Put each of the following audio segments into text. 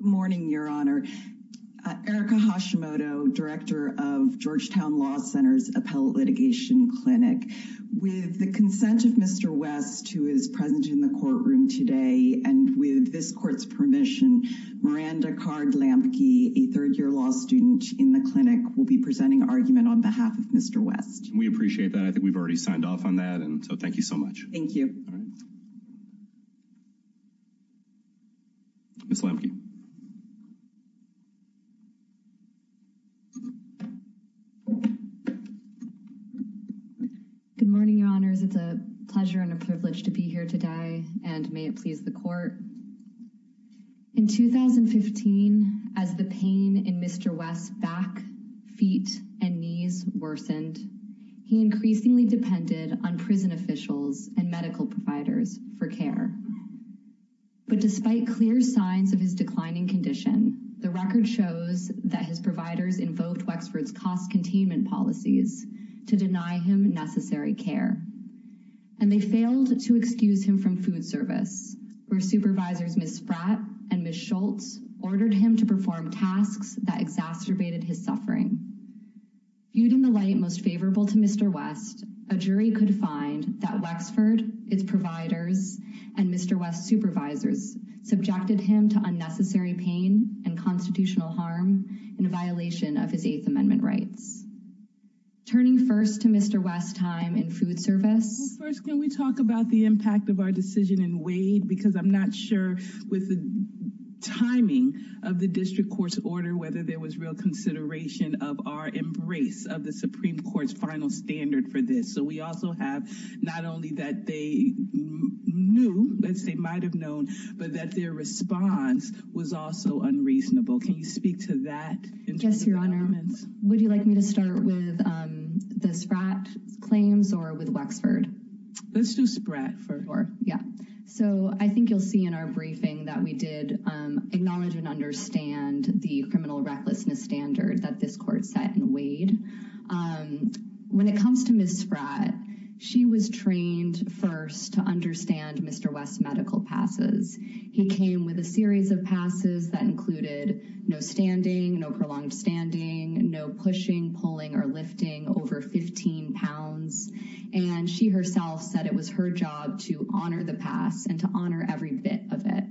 Morning, Your Honor. Erika Hashimoto, director of Georgetown Law Center's Appellate Litigation Clinic, with the consent of Mr. West, who is present in the courtroom today, and with this court's permission, Miranda Card-Lampke, a third year law student in the clinic, will be presenting argument on behalf of Mr. West. We appreciate that. I think we've already signed off on that. And so thank you so much. Thank you. All right. Ms. Lampke. Good morning, Your Honors. It's a pleasure and a privilege to be here today, and may it please the court. In 2015, as the pain in Mr. West's back, feet, and knees worsened, he increasingly depended on prison officials and medical providers for care. But despite clear signs of his declining condition, the record shows that his providers invoked Wexford's cost containment policies to deny him necessary care. And they failed to excuse him from food service, where supervisors Ms. Spratt and Ms. Schultz ordered him to perform tasks that exacerbated his suffering. Viewed in the light most favorable to Mr. West, a jury could find that Wexford, its providers, and Mr. West's supervisors subjected him to unnecessary pain and constitutional harm in a violation of his Eighth Amendment rights. Turning first to Mr. West's time in food service. First, can we talk about the impact of our decision in Wade? Because I'm not sure, with the timing of the district court's order, whether there was real consideration of our embrace of the Supreme Court's final standard for this. So we also have not only that they knew, as they might have known, but that their response was also unreasonable. Can you speak to that? Yes, Your Honor. Would you like me to start with the Spratt claims or with Wexford? Let's do Spratt first. Yeah. So I think you'll see in our briefing that we did acknowledge and understand the criminal recklessness standard that this court set in Wade. When it comes to Ms. Spratt, she was trained first to understand Mr. West's medical passes. He came with a series of passes that included no standing, no prolonged standing, no pushing, pulling, or lifting over 15 pounds, and she herself said it was her job to honor the pass and to honor every bit of it.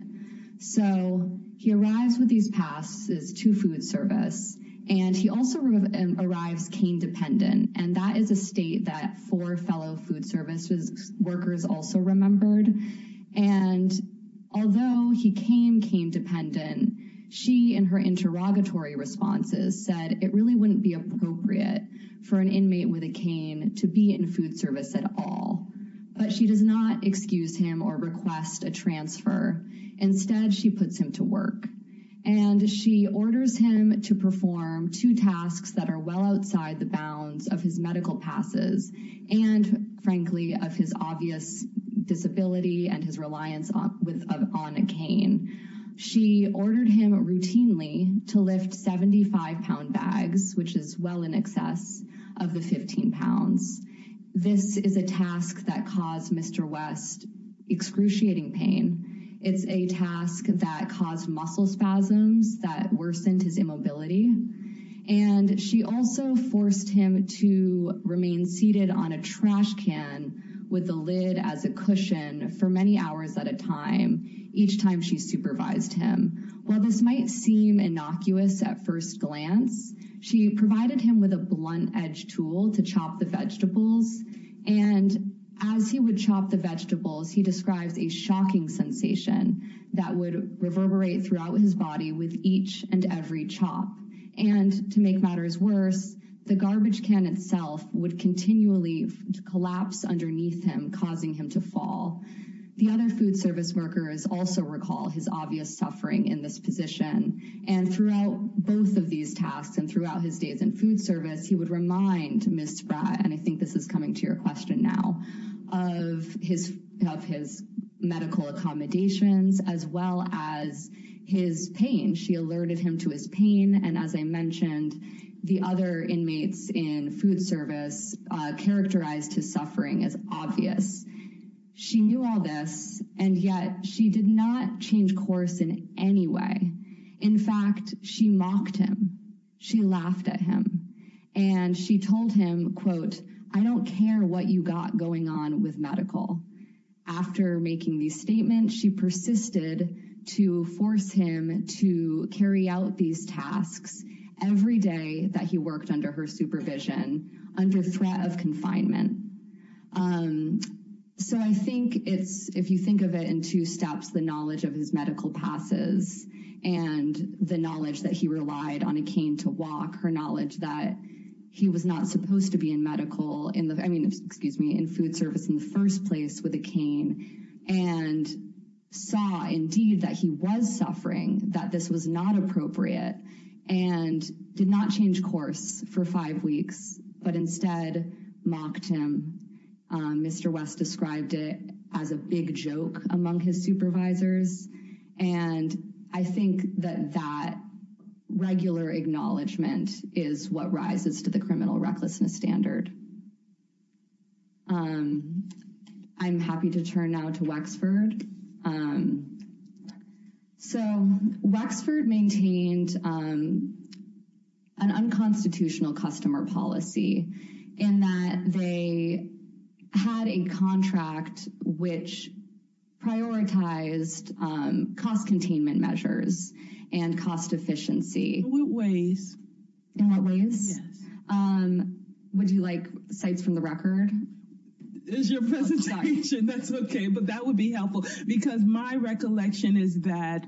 So he arrives with these passes to food service, and he also arrives cane dependent, and that is a state that four fellow food services workers also remembered. And although he came cane dependent, she in her interrogatory responses said it really wouldn't be appropriate for an inmate with a cane to be in food service at all. But she does not excuse him or request a transfer. Instead, she puts him to work, and she orders him to perform two tasks that are well outside the bounds of his medical passes and, frankly, of his obvious disability and his reliance on a cane. She ordered him routinely to lift 75 pound bags, which is well in excess of the 15 pounds. This is a task that caused Mr. West excruciating pain. It's a task that caused muscle spasms that worsened his immobility, and she also forced him to remain seated on a trash can with the lid as a cushion for many hours at a time each time she supervised him. While this might seem innocuous at first glance, she provided him with a blunt edge tool to chop the vegetables. And as he would chop the vegetables, he describes a shocking sensation that would reverberate throughout his body with each and every chop. And to make matters worse, the garbage can itself would continually collapse underneath him, causing him to fall. The other food service workers also recall his obvious suffering in this position. And throughout both of these tasks and throughout his days in food service, he would remind Ms. Spratt, and I think this is coming to your question now, of his medical accommodations as well as his pain. She alerted him to his pain. And as I mentioned, the other inmates in food service characterized his suffering as obvious. She knew all this, and yet she did not change course in any way. In fact, she mocked him, she laughed at him, and she told him, quote, I don't care what you got going on with medical. After making these statements, she persisted to force him to carry out these tasks every day that he worked under her supervision under threat of confinement. So I think it's, if you think of it in two steps, the knowledge of his medical passes and the knowledge that he relied on a cane to walk, her knowledge that he was not supposed to be in medical, I mean, excuse me, in food service in the first place with a cane, and saw indeed that he was suffering, that this was not appropriate, and did not change course for five weeks, but instead mocked him. Mr. West described it as a big joke among his supervisors. And I think that that regular acknowledgement is what rises to the criminal recklessness standard. I'm happy to turn now to Wexford. So Wexford maintained an unconstitutional customer policy in that they had a contract, which prioritized cost containment measures and cost efficiency ways in what ways would you like sites from the record is your presentation, that's okay, but that would be helpful. Because my recollection is that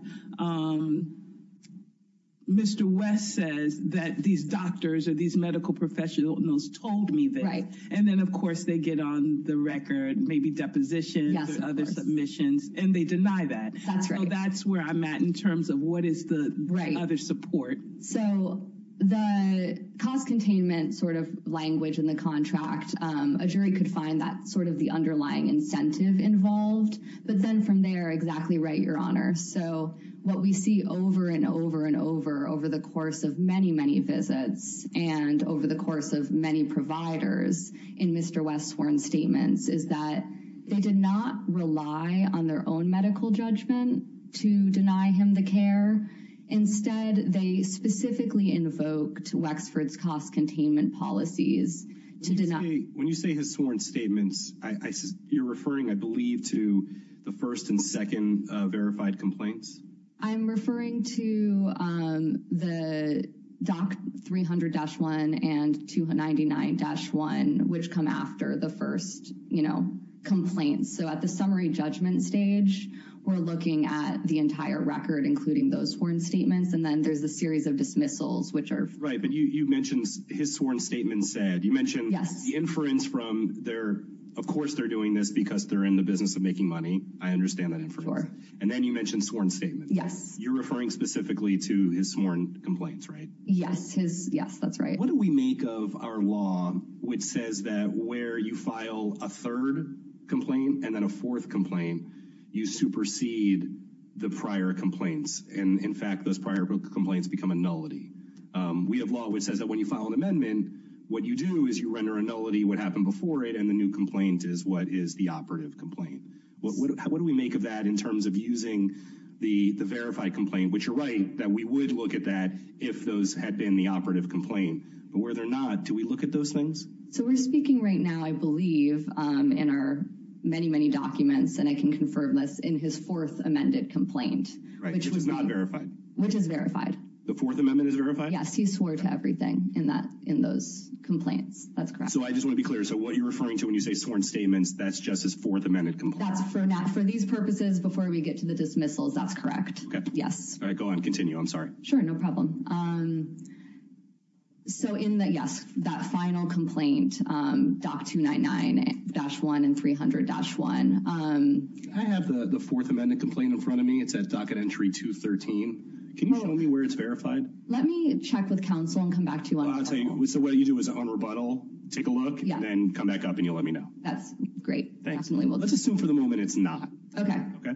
Mr. West says that these doctors or these medical professionals told me that, and then, of course, they get on the record, maybe deposition other submissions, and they deny that. That's right. That's where I'm at in terms of what is the right other support. So the cost containment sort of language in the contract, a jury could find that sort of the underlying incentive involved, but then from there, exactly right. Your honor. So what we see over and over and over, over the course of many, many visits and over the course of many providers in Mr. West sworn statements is that they did not rely on their own medical judgment to deny him the care. Instead, they specifically invoked Wexford's cost containment policies to deny when you say his sworn statements. I you're referring, I believe, to the first and second verified complaints. I'm referring to the doc 300 dash one and 299 dash one, which come after the first, you know, complaints. So at the summary judgment stage, we're looking at the entire record, including those sworn statements. And then there's a series of dismissals, which are right. But you mentioned his sworn statement said you mentioned the inference from their Of course, they're doing this because they're in the business of making money. I understand that. And then you mentioned sworn statement. Yes, you're referring specifically to his sworn complaints, right? Yes. Yes, that's right. What do we make of our law, which says that where you file a third complaint and then a fourth complaint, you supersede the prior complaints. And in fact, those prior complaints become a nullity. We have law, which says that when you file an amendment, what you do is you render a nullity what happened before it. And the new complaint is what is the operative complaint? What do we make of that in terms of using the verified complaint? But you're right that we would look at that if those had been the operative complaint. But where they're not, do we look at those things? So we're speaking right now, I believe, in our many, many documents. And I can confirm this in his fourth amended complaint, which was not verified, which is verified. The fourth amendment is verified? Yes, he swore to everything in that in those complaints. That's correct. So I just want to be clear. So what you're referring to when you say sworn statements, that's just his fourth amended complaint. That's for now, for these purposes, before we get to the dismissals. That's correct. Yes. All right. Go on. Continue. I'm sorry. Sure. No problem. So in the yes, that final complaint, Doc two nine nine dash one and three hundred dash one. I have the fourth amendment complaint in front of me. It's at docket entry to 13. Can you show me where it's verified? Let me check with council and come back to you. I'll tell you. So what you do is on rebuttal. Take a look and then come back up and you'll let me know. That's great. Thanks. Let's assume for the moment. It's not. OK. OK.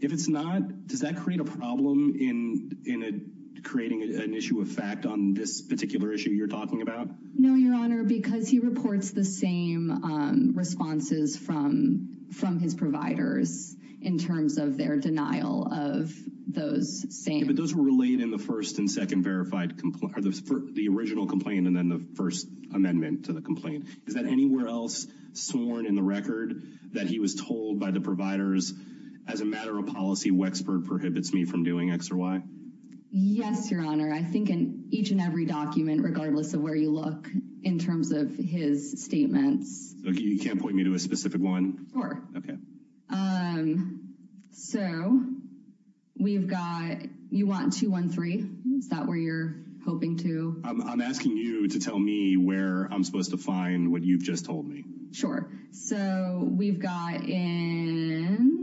If it's not, does that create a problem in in creating an issue of fact on this particular issue you're talking about? No, your honor, because he reports the same responses from from his providers in terms of their denial of those same. But those were related in the first and second verified the original complaint and then the first amendment to the complaint. Is that anywhere else sworn in the record that he was told by the providers as a matter of policy? Wexford prohibits me from doing X or Y. Yes, your honor. I think in each and every document, regardless of where you look in terms of his statements, you can't point me to a specific one. Sure. OK, so we've got you want two, one, three. Is that where you're hoping to? I'm asking you to tell me where I'm supposed to find what you've just told me. Sure. So we've got in.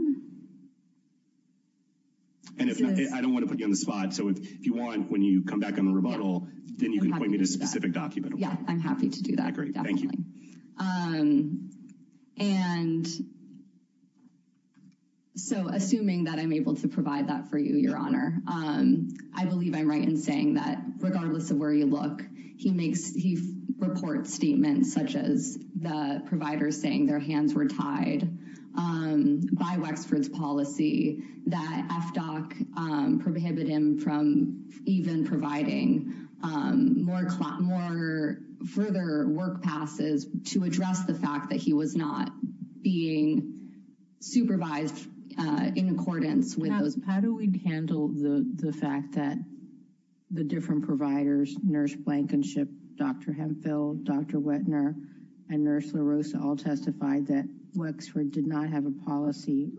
And if I don't want to put you on the spot, so if you want, when you come back on the rebuttal, then you can point me to a specific document. Yeah, I'm happy to do that. Great. Thank you. OK, and so assuming that I'm able to provide that for you, your honor, I believe I'm right in saying that regardless of where you look, he makes he reports statements such as the providers saying their hands were tied by Wexford's policy, that FDOC prohibit him from even providing more more further work passes to address the fact that he was not being supervised in accordance with those. How do we handle the fact that the different providers, nurse Blankenship, Dr. Hemphill, Dr. Wettner and nurse LaRosa all testified that Wexford did not have a policy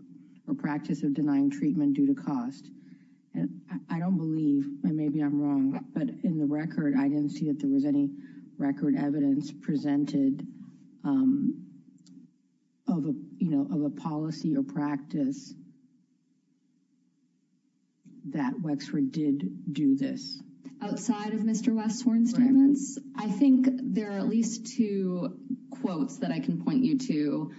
or practice of denying treatment due to cost. And I don't believe and maybe I'm wrong, but in the record, I didn't see that there was any record evidence presented Of a, you know, of a policy or practice. That Wexford did do this outside of Mr. Wexford statements. I think there are at least two quotes that I can point you to.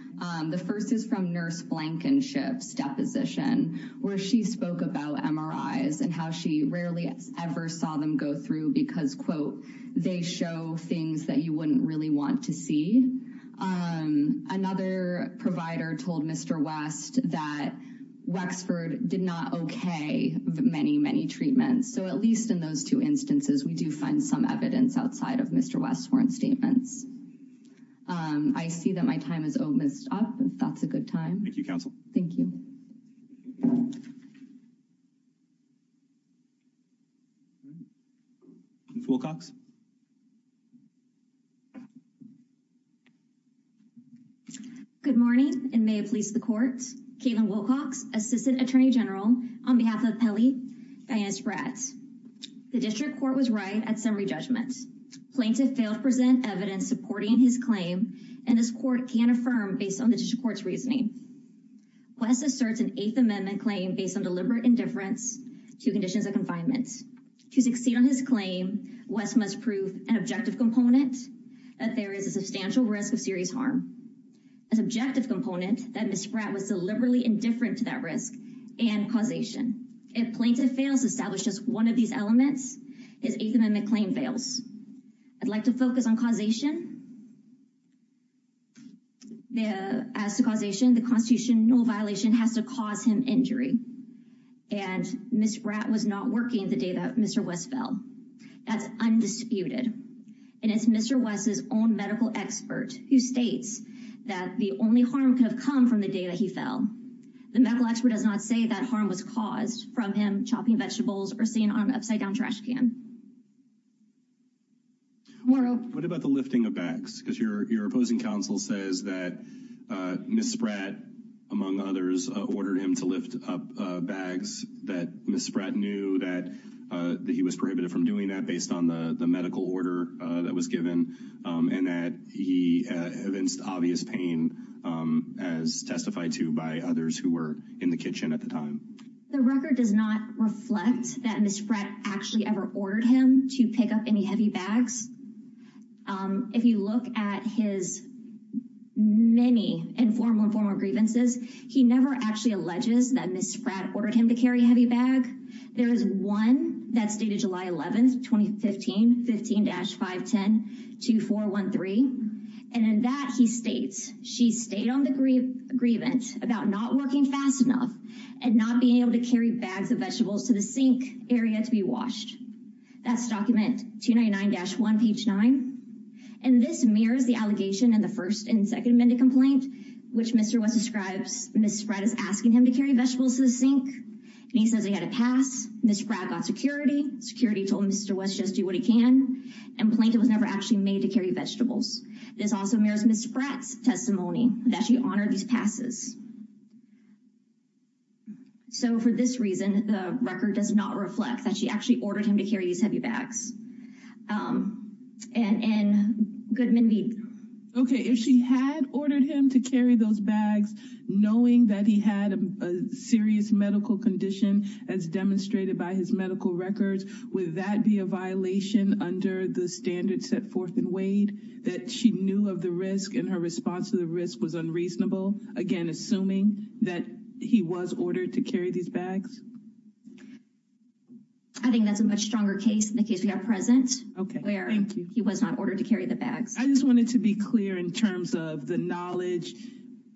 The first is from nurse Blankenship's deposition where she spoke about MRIs and how she rarely ever saw them go through because, quote, they show things that you wouldn't really want to see. Another provider told Mr. West that Wexford did not okay many, many treatments. So at least in those two instances, we do find some evidence outside of Mr. West's statements. I see that my time is almost up. That's a good time. Thank you. Council. Thank you. Full Cox. Good morning, and may it please the court. Caitlin Wilcox, Assistant Attorney General, on behalf of Pelley, Dianus Bratt, the district court was right at summary judgment plaintiff failed to present evidence supporting his claim and this court can affirm based on the district court's reasoning. West asserts an Eighth Amendment claim based on deliberate indifference to conditions of confinement. To succeed on his claim, West must prove an objective component that there is a substantial risk of serious harm. A subjective component that Ms. Bratt was deliberately indifferent to that risk and causation. If plaintiff fails to establish just one of these elements, his Eighth Amendment claim fails. I'd like to focus on causation. The as the causation, the constitutional violation has to cause him injury and Ms. Bratt was not working the day that Mr. West fell. That's undisputed and it's Mr. West's own medical expert who states that the only harm could have come from the day that he fell. The medical expert does not say that harm was caused from him. Chopping vegetables are seen on upside down trash can. What about the lifting of bags? Because your opposing counsel says that Ms. Bratt, among others, ordered him to lift up bags that Ms. Bratt knew that he was prohibited from doing that based on the medical order that was given and that he evinced obvious pain as testified to by others who were in the kitchen at the time. The record does not reflect that Ms. Bratt actually ever ordered him to pick up any heavy bags. If you look at his many informal and formal grievances, he never actually alleges that Ms. Bratt ordered him to carry a heavy bag. There is one that's dated July 11th, 2015, 15-510-2413, and in that he states, she stayed on the grievance about not working fast enough and not being able to carry bags of vegetables to the sink area to be washed. That's document 299-1, page 9, and this mirrors the allegation in the first and second amended complaint, which Mr. West describes Ms. Bratt as asking him to carry vegetables to the sink, and he says he had a pass. Ms. Bratt got security. Security told Mr. West just do what he can, and plaintiff was never actually made to carry vegetables. It is also mirrors Ms. Bratt's testimony that she honored these passes. So for this reason, the record does not reflect that she actually ordered him to carry these heavy bags. And Goodman-Veed. Okay, if she had ordered him to carry those bags, knowing that he had a serious medical condition, as demonstrated by his medical records, would that be a violation under the standards set forth in Wade that she knew of the risk and her response to the risk was unreasonable? Again, assuming that he was ordered to carry these bags? I think that's a much stronger case in the case we have present. Okay, thank you. He was not ordered to carry the bags. I just wanted to be clear in terms of the knowledge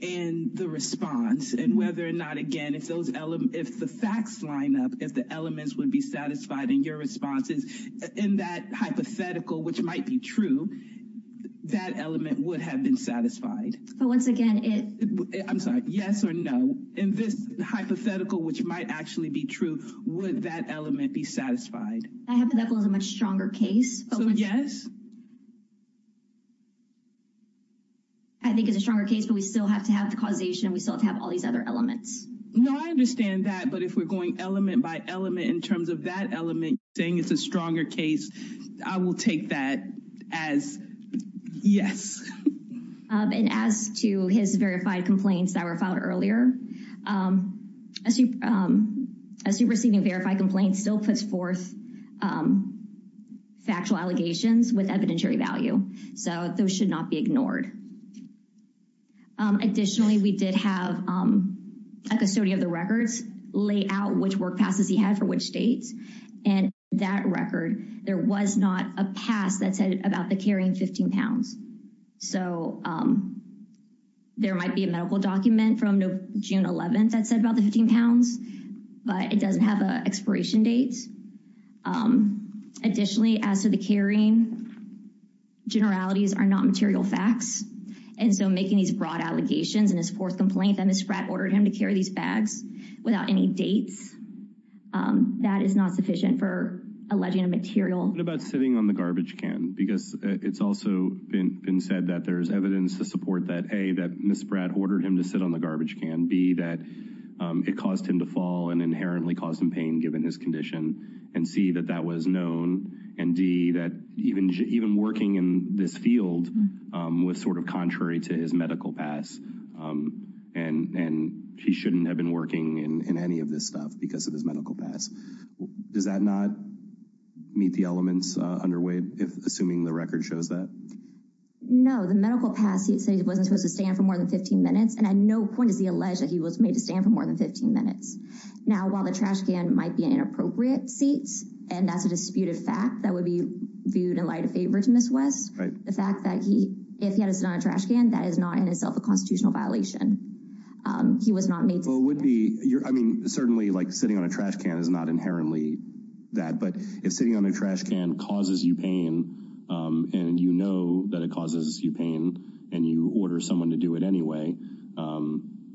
and the response and whether or not, again, if those if the facts line up, if the elements would be satisfied in your responses in that hypothetical, which might be true, that element would have been satisfied. But once again, it I'm sorry, yes or no, in this hypothetical, which might actually be true, would that element be satisfied? I have that was a much stronger case. Yes. I think it's a stronger case, but we still have to have the causation. We still have to have all these other elements. No, I understand that. But if we're going element by element in terms of that element, saying it's a stronger case, I will take that as yes. And as to his verified complaints that were filed earlier, as you as you receiving verified complaints still puts forth factual allegations with evidentiary value. So those should not be ignored. Additionally, we did have a custodian of the records lay out which work passes he had for which states and that record, there was not a pass that said about the carrying 15 pounds. So there might be a medical document from June 11th that said about the 15 pounds, but it doesn't have an expiration date. Additionally, as to the carrying generalities are not material facts. And so making these broad allegations and his fourth complaint that Miss Pratt ordered him to carry these bags without any dates, that is not sufficient for alleging a material about sitting on the garbage can, because it's also been said that there is evidence to support that a that Miss Pratt ordered him to sit on the garbage can be that it caused him to fall and inherently caused him pain given his condition. And see that that was known and D, that even even working in this field was sort of contrary to his medical pass. And he shouldn't have been working in any of this stuff because of his medical pass. Does that not meet the elements underway, assuming the record shows that? No, the medical pass, he said he wasn't supposed to stand for more than 15 minutes. And at no point is he alleged that he was made to stand for more than 15 minutes. Now, while the trash can might be an inappropriate seats and that's a disputed fact that would be viewed in light of favor to Miss West, the fact that he if he had to sit on a trash can, that is not in itself a constitutional violation. He was not made. So would be your I mean, certainly like sitting on a trash can is not inherently that. But if sitting on a trash can causes you pain and you know that it causes you pain and you order someone to do it anyway.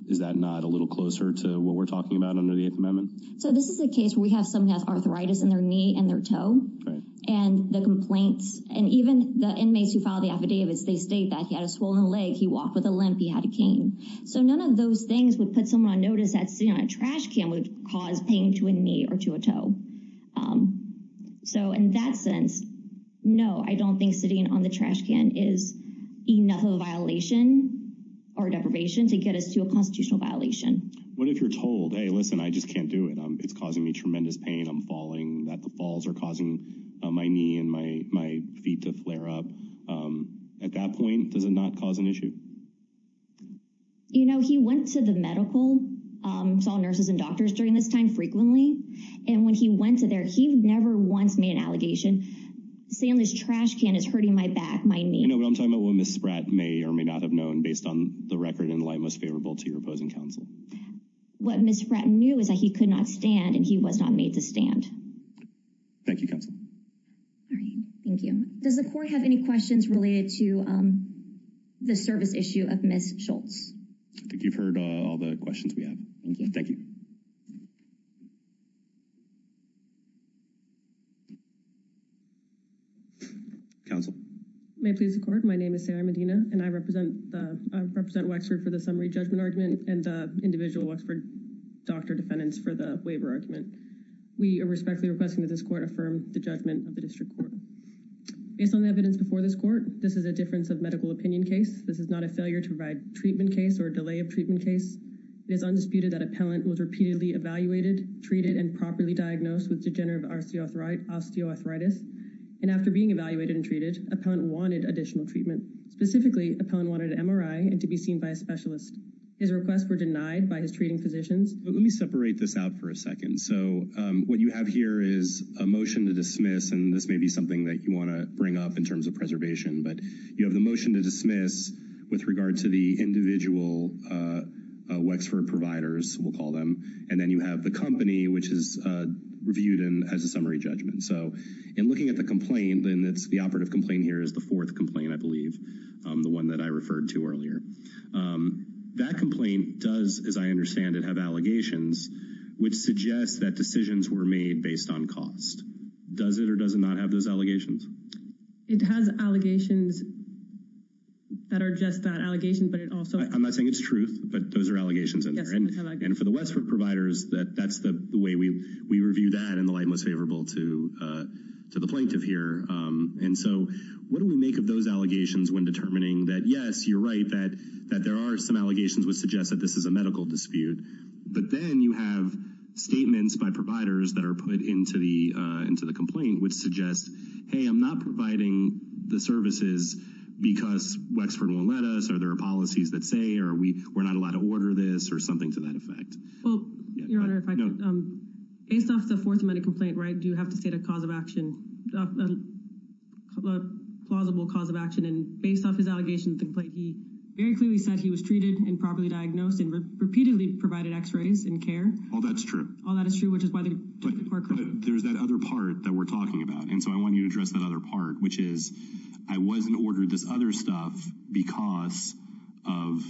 Is that not a little closer to what we're talking about under the Eighth Amendment? So this is a case where we have some has arthritis in their knee and their toe and the complaints and even the inmates who filed the affidavits, they state that he had a swollen leg. He walked with a limp. He had a cane. So none of those things would put someone on notice that sitting on a trash can would cause pain to a knee or to a toe. So in that sense, no, I don't think sitting on the trash can is enough of a violation or deprivation to get us to a constitutional violation. What if you're told, hey, listen, I just can't do it. It's causing me tremendous pain. I'm falling that the falls are causing my knee and my my feet to flare up at that point. Does it not cause an issue? You know, he went to the medical, saw nurses and doctors during this time frequently. And when he went to there, he never once made an allegation, saying this trash can is hurting my back, my knee. You know what I'm talking about? What Ms. Spratt may or may not have known based on the record in light, most favorable to your opposing counsel. What Ms. Spratt knew is that he could not stand and he was not made to stand. Thank you, counsel. Thank you. Does the court have any questions related to the service issue of Ms. Schultz? I think you've heard all the questions we have. Thank you. Thank you, counsel. May it please the court, my name is Sarah Medina and I represent, I represent Wexford for the summary judgment argument and individual Wexford doctor defendants for the waiver argument. We are respectfully requesting that this court affirm the judgment of the district court. Based on the evidence before this court, this is a difference of medical opinion case. This is not a failure to provide treatment case or delay of treatment case. It is undisputed that appellant was repeatedly evaluated, treated and properly diagnosed with degenerative osteoarthritis. And after being evaluated and treated, appellant wanted additional treatment. Specifically, appellant wanted an MRI and to be seen by a specialist. His requests were denied by his treating physicians. Let me separate this out for a second. So what you have here is a motion to dismiss. And this may be something that you want to bring up in terms of preservation. But you have the motion to dismiss with regard to the individual Wexford providers, we'll call them. And then you have the company, which is reviewed and has a summary judgment. So in looking at the complaint, then it's the operative complaint here is the fourth complaint, I believe, the one that I referred to earlier. That complaint does, as I understand it, have allegations which suggests that decisions were made based on cost. Does it or does it not have those allegations? It has allegations that are just that allegation, but it also I'm not saying it's truth, but those are allegations. And for the Wexford providers, that that's the way we we review that in the light most favorable to to the plaintiff here. And so what do we make of those allegations when determining that? Yes, you're right that that there are some allegations would suggest that this is a medical dispute. But then you have statements by providers that are put into the into the complaint, which suggests, hey, I'm not providing the services because Wexford won't let us. Are there policies that say, are we we're not allowed to order this or something to that effect? Well, your honor, based off the Fourth Amendment complaint, right, do you have to state a cause of action, a plausible cause of action? And based off his allegations, he very clearly said he was treated and properly diagnosed and repeatedly provided x-rays and care. All that's true. All that is true, which is why there's that other part that we're talking about. And so I want you to address that other part, which is I wasn't ordered this other stuff because of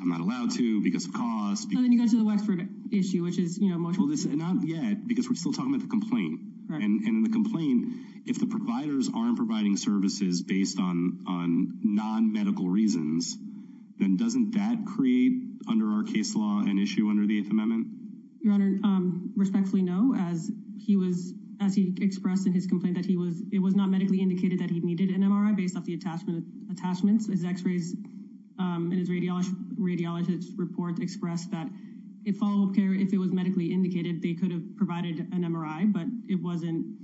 I'm not allowed to because of cost. And then you go to the Wexford issue, which is, you know, not yet because we're still talking about the complaint and the complaint. If the providers aren't providing services based on on non-medical reasons, then doesn't that create under our case law an issue under the Eighth Amendment? Your honor, respectfully, no. As he was as he expressed in his complaint that he was it was not medically indicated that he needed an MRI based off the attachment attachments, his x-rays and his radiologists report expressed that if follow up care, if it was medically indicated, they could have provided an MRI. But it wasn't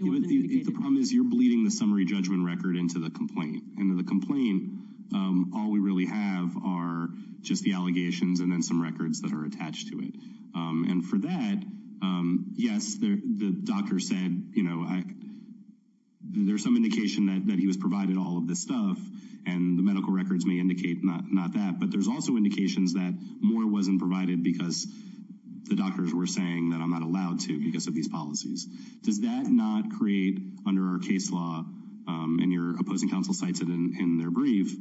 the problem is you're bleeding the summary judgment record into the complaint and the complaint. All we really have are just the allegations and then some records that are attached to it. And for that, yes, the doctor said, you know, there's some indication that he was provided all of this stuff and the medical records may indicate not that. But there's also indications that more wasn't provided because the doctors were saying that I'm not allowed to because of these policies. Does that not create under our case law and your opposing counsel cites it in their brief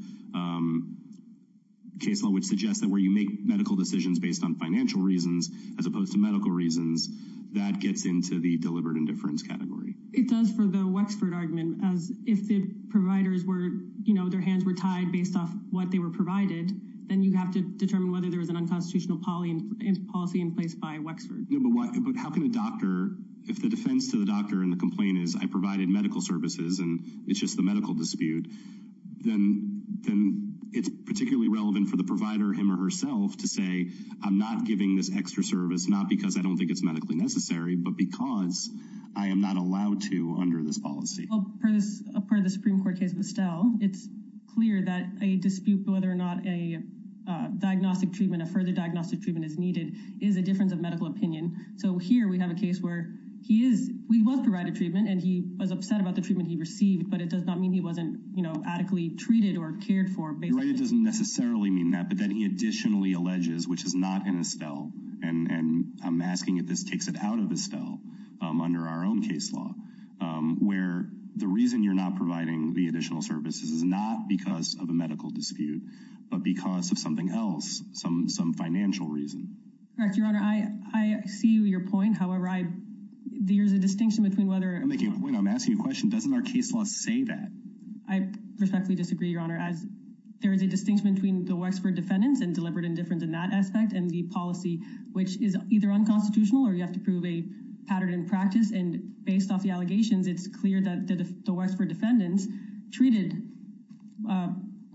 case law, which suggests that where you make medical decisions based on financial reasons as opposed to medical reasons, that gets into the deliberate indifference category. It does for the Wexford argument as if the providers were, you know, their hands were tied based off what they were provided, then you have to determine whether there was an unconstitutional policy and policy in place by Wexford. But how can a doctor if the defense to the doctor and the complaint is I provided medical services and it's just the medical dispute. Then then it's particularly relevant for the provider him or herself to say, I'm not giving this extra service, not because I don't think it's medically necessary, but because I am not allowed to under this policy. A part of the Supreme Court case, but still, it's clear that a dispute, whether or not a diagnostic treatment of further diagnostic treatment is needed is a difference of medical opinion. So here we have a case where he is. We will provide a treatment and he was upset about the treatment he received, but it does not mean he wasn't, you know, adequately treated or cared for, but it doesn't necessarily mean that. But then he additionally alleges, which is not in Estelle and I'm asking it. This takes it out of Estelle under our own case law where the reason you're not providing the additional services is not because of a medical dispute, but because of something else. Some some financial reason. Right, Your Honor, I I see your point. However, I there's a distinction between whether I'm making a point. I'm asking a question. Doesn't our case law say that I respectfully disagree, Your Honor, as there is a distinction between the Wexford defendants and deliberate indifference in that aspect and the policy, which is either unconstitutional or you have to prove a pattern in practice. And based off the allegations, it's clear that the Wexford defendants treated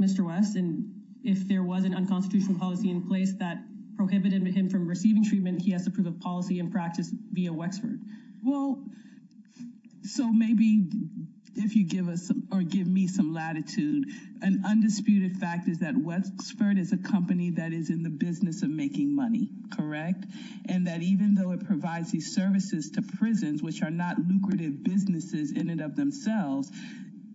Mr. West and if there was an unconstitutional policy in place that prohibited him from receiving treatment, he has to prove a policy and practice via Wexford. Well, so maybe if you give us or give me some latitude, an undisputed fact is that Wexford is a company that is in the business of making money. Correct. And that even though it provides these services to prisons, which are not lucrative businesses in and of themselves,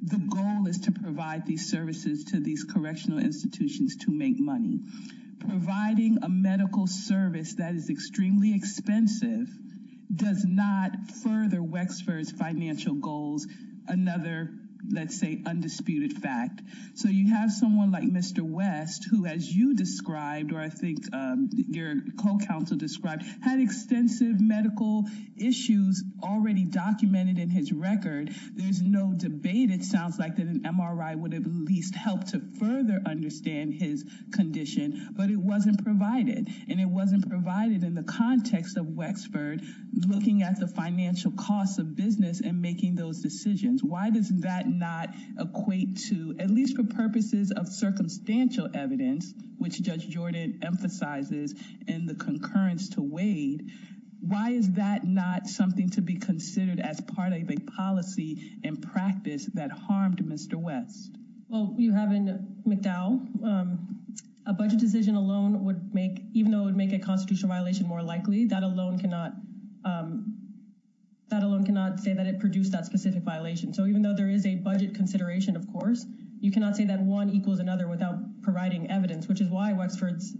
the goal is to provide these services to these correctional institutions to make money, providing a medical service that is extremely expensive does not further Wexford's financial goals, another, let's say, undisputed fact. So you have someone like Mr. West, who, as you described, or I think your co-counsel described, had extensive medical issues already documented in his record. There's no debate. It sounds like that an MRI would have at least helped to further understand his condition, but it wasn't provided and it wasn't provided in the context of Wexford looking at the financial costs of business and making those decisions. Why does that not equate to, at least for purposes of circumstantial evidence, which Judge Jordan emphasizes in the concurrence to Wade, why is that not something to be considered as part of a policy and practice that harmed Mr. West? Well, you have in McDowell, a budget decision alone would make, even though it would make a constitutional violation more likely, that alone cannot say that it produced that specific violation. So even though there is a budget consideration, of course, you cannot say that one equals another without providing evidence, which is why Wexford's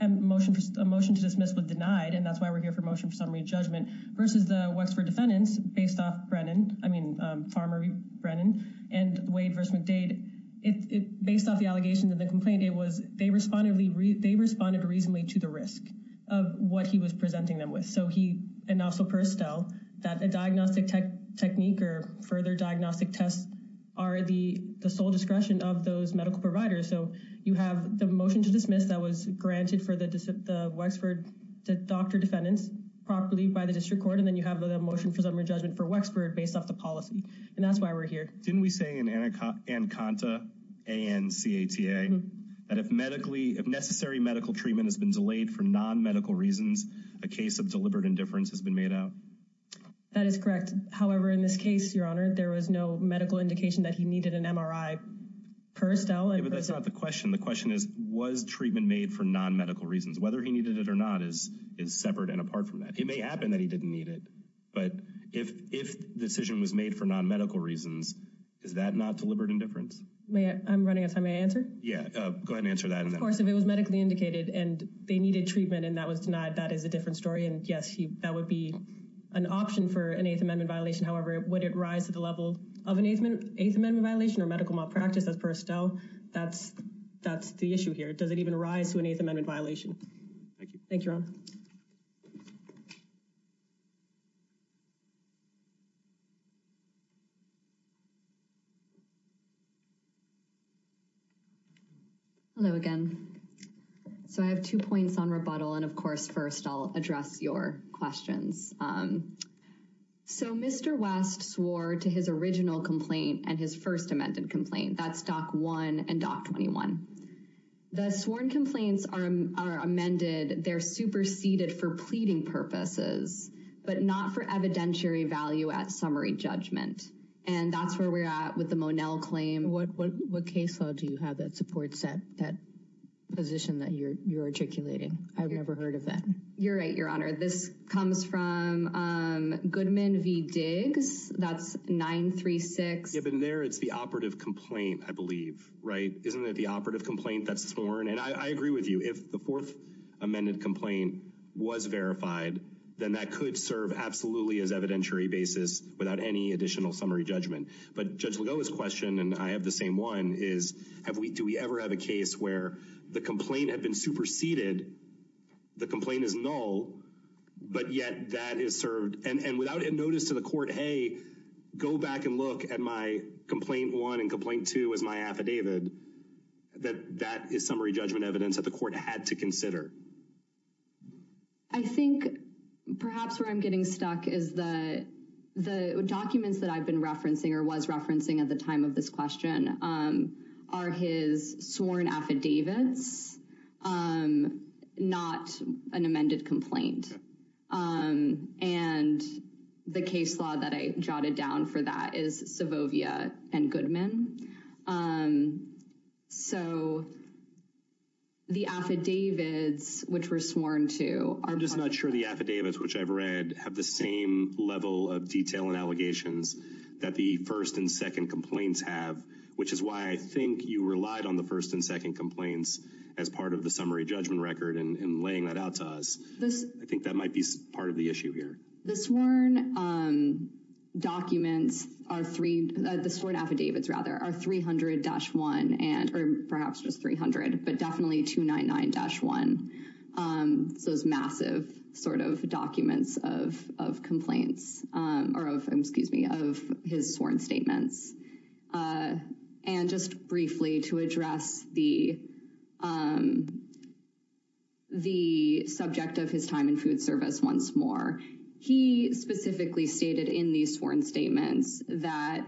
motion to dismiss was denied. And that's why we're here for motion for summary judgment versus the Wexford defendants based off Brennan. I mean, Farmer Brennan and Wade versus McDade. Based off the allegations of the complaint, it was they responded reasonably to the risk of what he was presenting them with. So he and also Perestel that a diagnostic tech technique or further diagnostic tests are the sole discretion of those medical providers. So you have the motion to dismiss that was granted for the Wexford doctor defendants properly by the district court. And then you have the motion for summary judgment for Wexford based off the policy. And that's why we're here. Didn't we say in Anaconda and C.A.T.A. that if medically if necessary, medical treatment has been delayed for nonmedical reasons, a case of deliberate indifference has been made out. That is correct. However, in this case, your honor, there was no medical indication that he needed an M.R.I. Perestel. But that's not the question. The question is, was treatment made for nonmedical reasons, whether he needed it or not, is is separate and apart from that. It may happen that he didn't need it. But if if the decision was made for nonmedical reasons, is that not deliberate indifference? I'm running out of time. May I answer? Yeah, go ahead and answer that. Of course, if it was medically indicated and they needed treatment and that was denied, that is a different story. And yes, that would be an option for an Eighth Amendment violation. However, would it rise to the level of an Eighth Amendment violation or medical malpractice as Perestel? That's, that's the issue here. Does it even rise to an Eighth Amendment violation? Thank you. Thank you. Hello again. So I have two points on rebuttal. And of course, first, I'll address your questions. So Mr. West swore to his original complaint and his first amended complaint. That's Dock 1 and Dock 21. The sworn complaints are amended. They're superseded for pleading purposes, but not for evidentiary value at summary judgment. And that's where we're at with the Monell claim. What what case law do you have that supports that that position that you're you're articulating? I've never heard of that. You're right, Your Honor. This comes from Goodman v. Diggs. That's 936. You've been there. It's the operative complaint, I believe. Right. Isn't it the operative complaint that's sworn? And I agree with you. If the fourth amended complaint was verified, then that could serve absolutely as evidentiary basis without any additional summary judgment. But Judge Lagoa's question, and I have the same one, is have we do we ever have a case where the complaint had been superseded? The complaint is null, but yet that is served. And without a notice to the court, hey, go back and look at my complaint 1 and complaint 2 as my affidavit, that that is summary judgment evidence that the court had to consider. I think perhaps where I'm getting stuck is the the documents that I've been referencing or was referencing at the time of this question are his sworn affidavits, not an amended complaint. And the case law that I jotted down for that is Savovia and Goodman. So the affidavits which were sworn to. I'm just not sure the affidavits which I've read have the same level of detail and allegations that the first and second complaints have, which is why I think you relied on the first and second complaints as part of the summary judgment record and laying that out to us. This I think that might be part of the issue here. The sworn documents are three, the sworn affidavits rather are 300-1 and or perhaps just 300 but definitely 299-1. So it's massive sort of documents of complaints or of, excuse me, of his sworn statements. And just briefly to address the subject of his time in food service once more, he specifically stated in these sworn statements that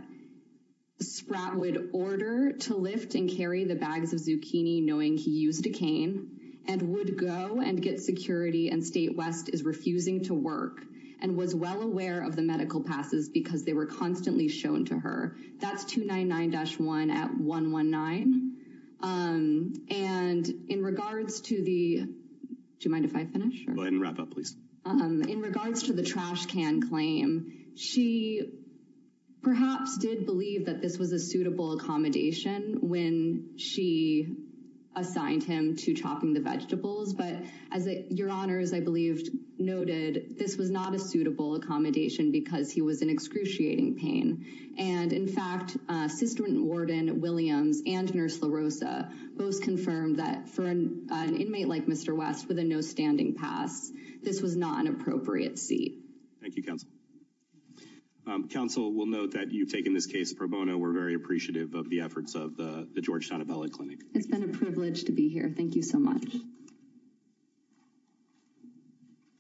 Spratt would order to lift and carry the bags of zucchini, knowing he used a cane and would go and get security and State West is refusing to work and was well aware of the medical passes because they were constantly shown to her. That's 299-1 at 119. And in regards to the, do you mind if I finish? Go ahead and wrap up, please. In regards to the trash can claim, she perhaps did believe that this was a suitable accommodation when she assigned him to chopping the vegetables. But as your honor, as I believe noted, this was not a suitable accommodation because he was in excruciating pain. And in fact, Assistant Warden Williams and Nurse LaRosa both confirmed that for an inmate like Mr. West with a no standing pass, this was not an appropriate seat. Thank you, counsel. Counsel will note that you've taken this case pro bono. We're very appreciative of the efforts of the Georgetown Abella Clinic. It's been a privilege to be here. Thank you so much.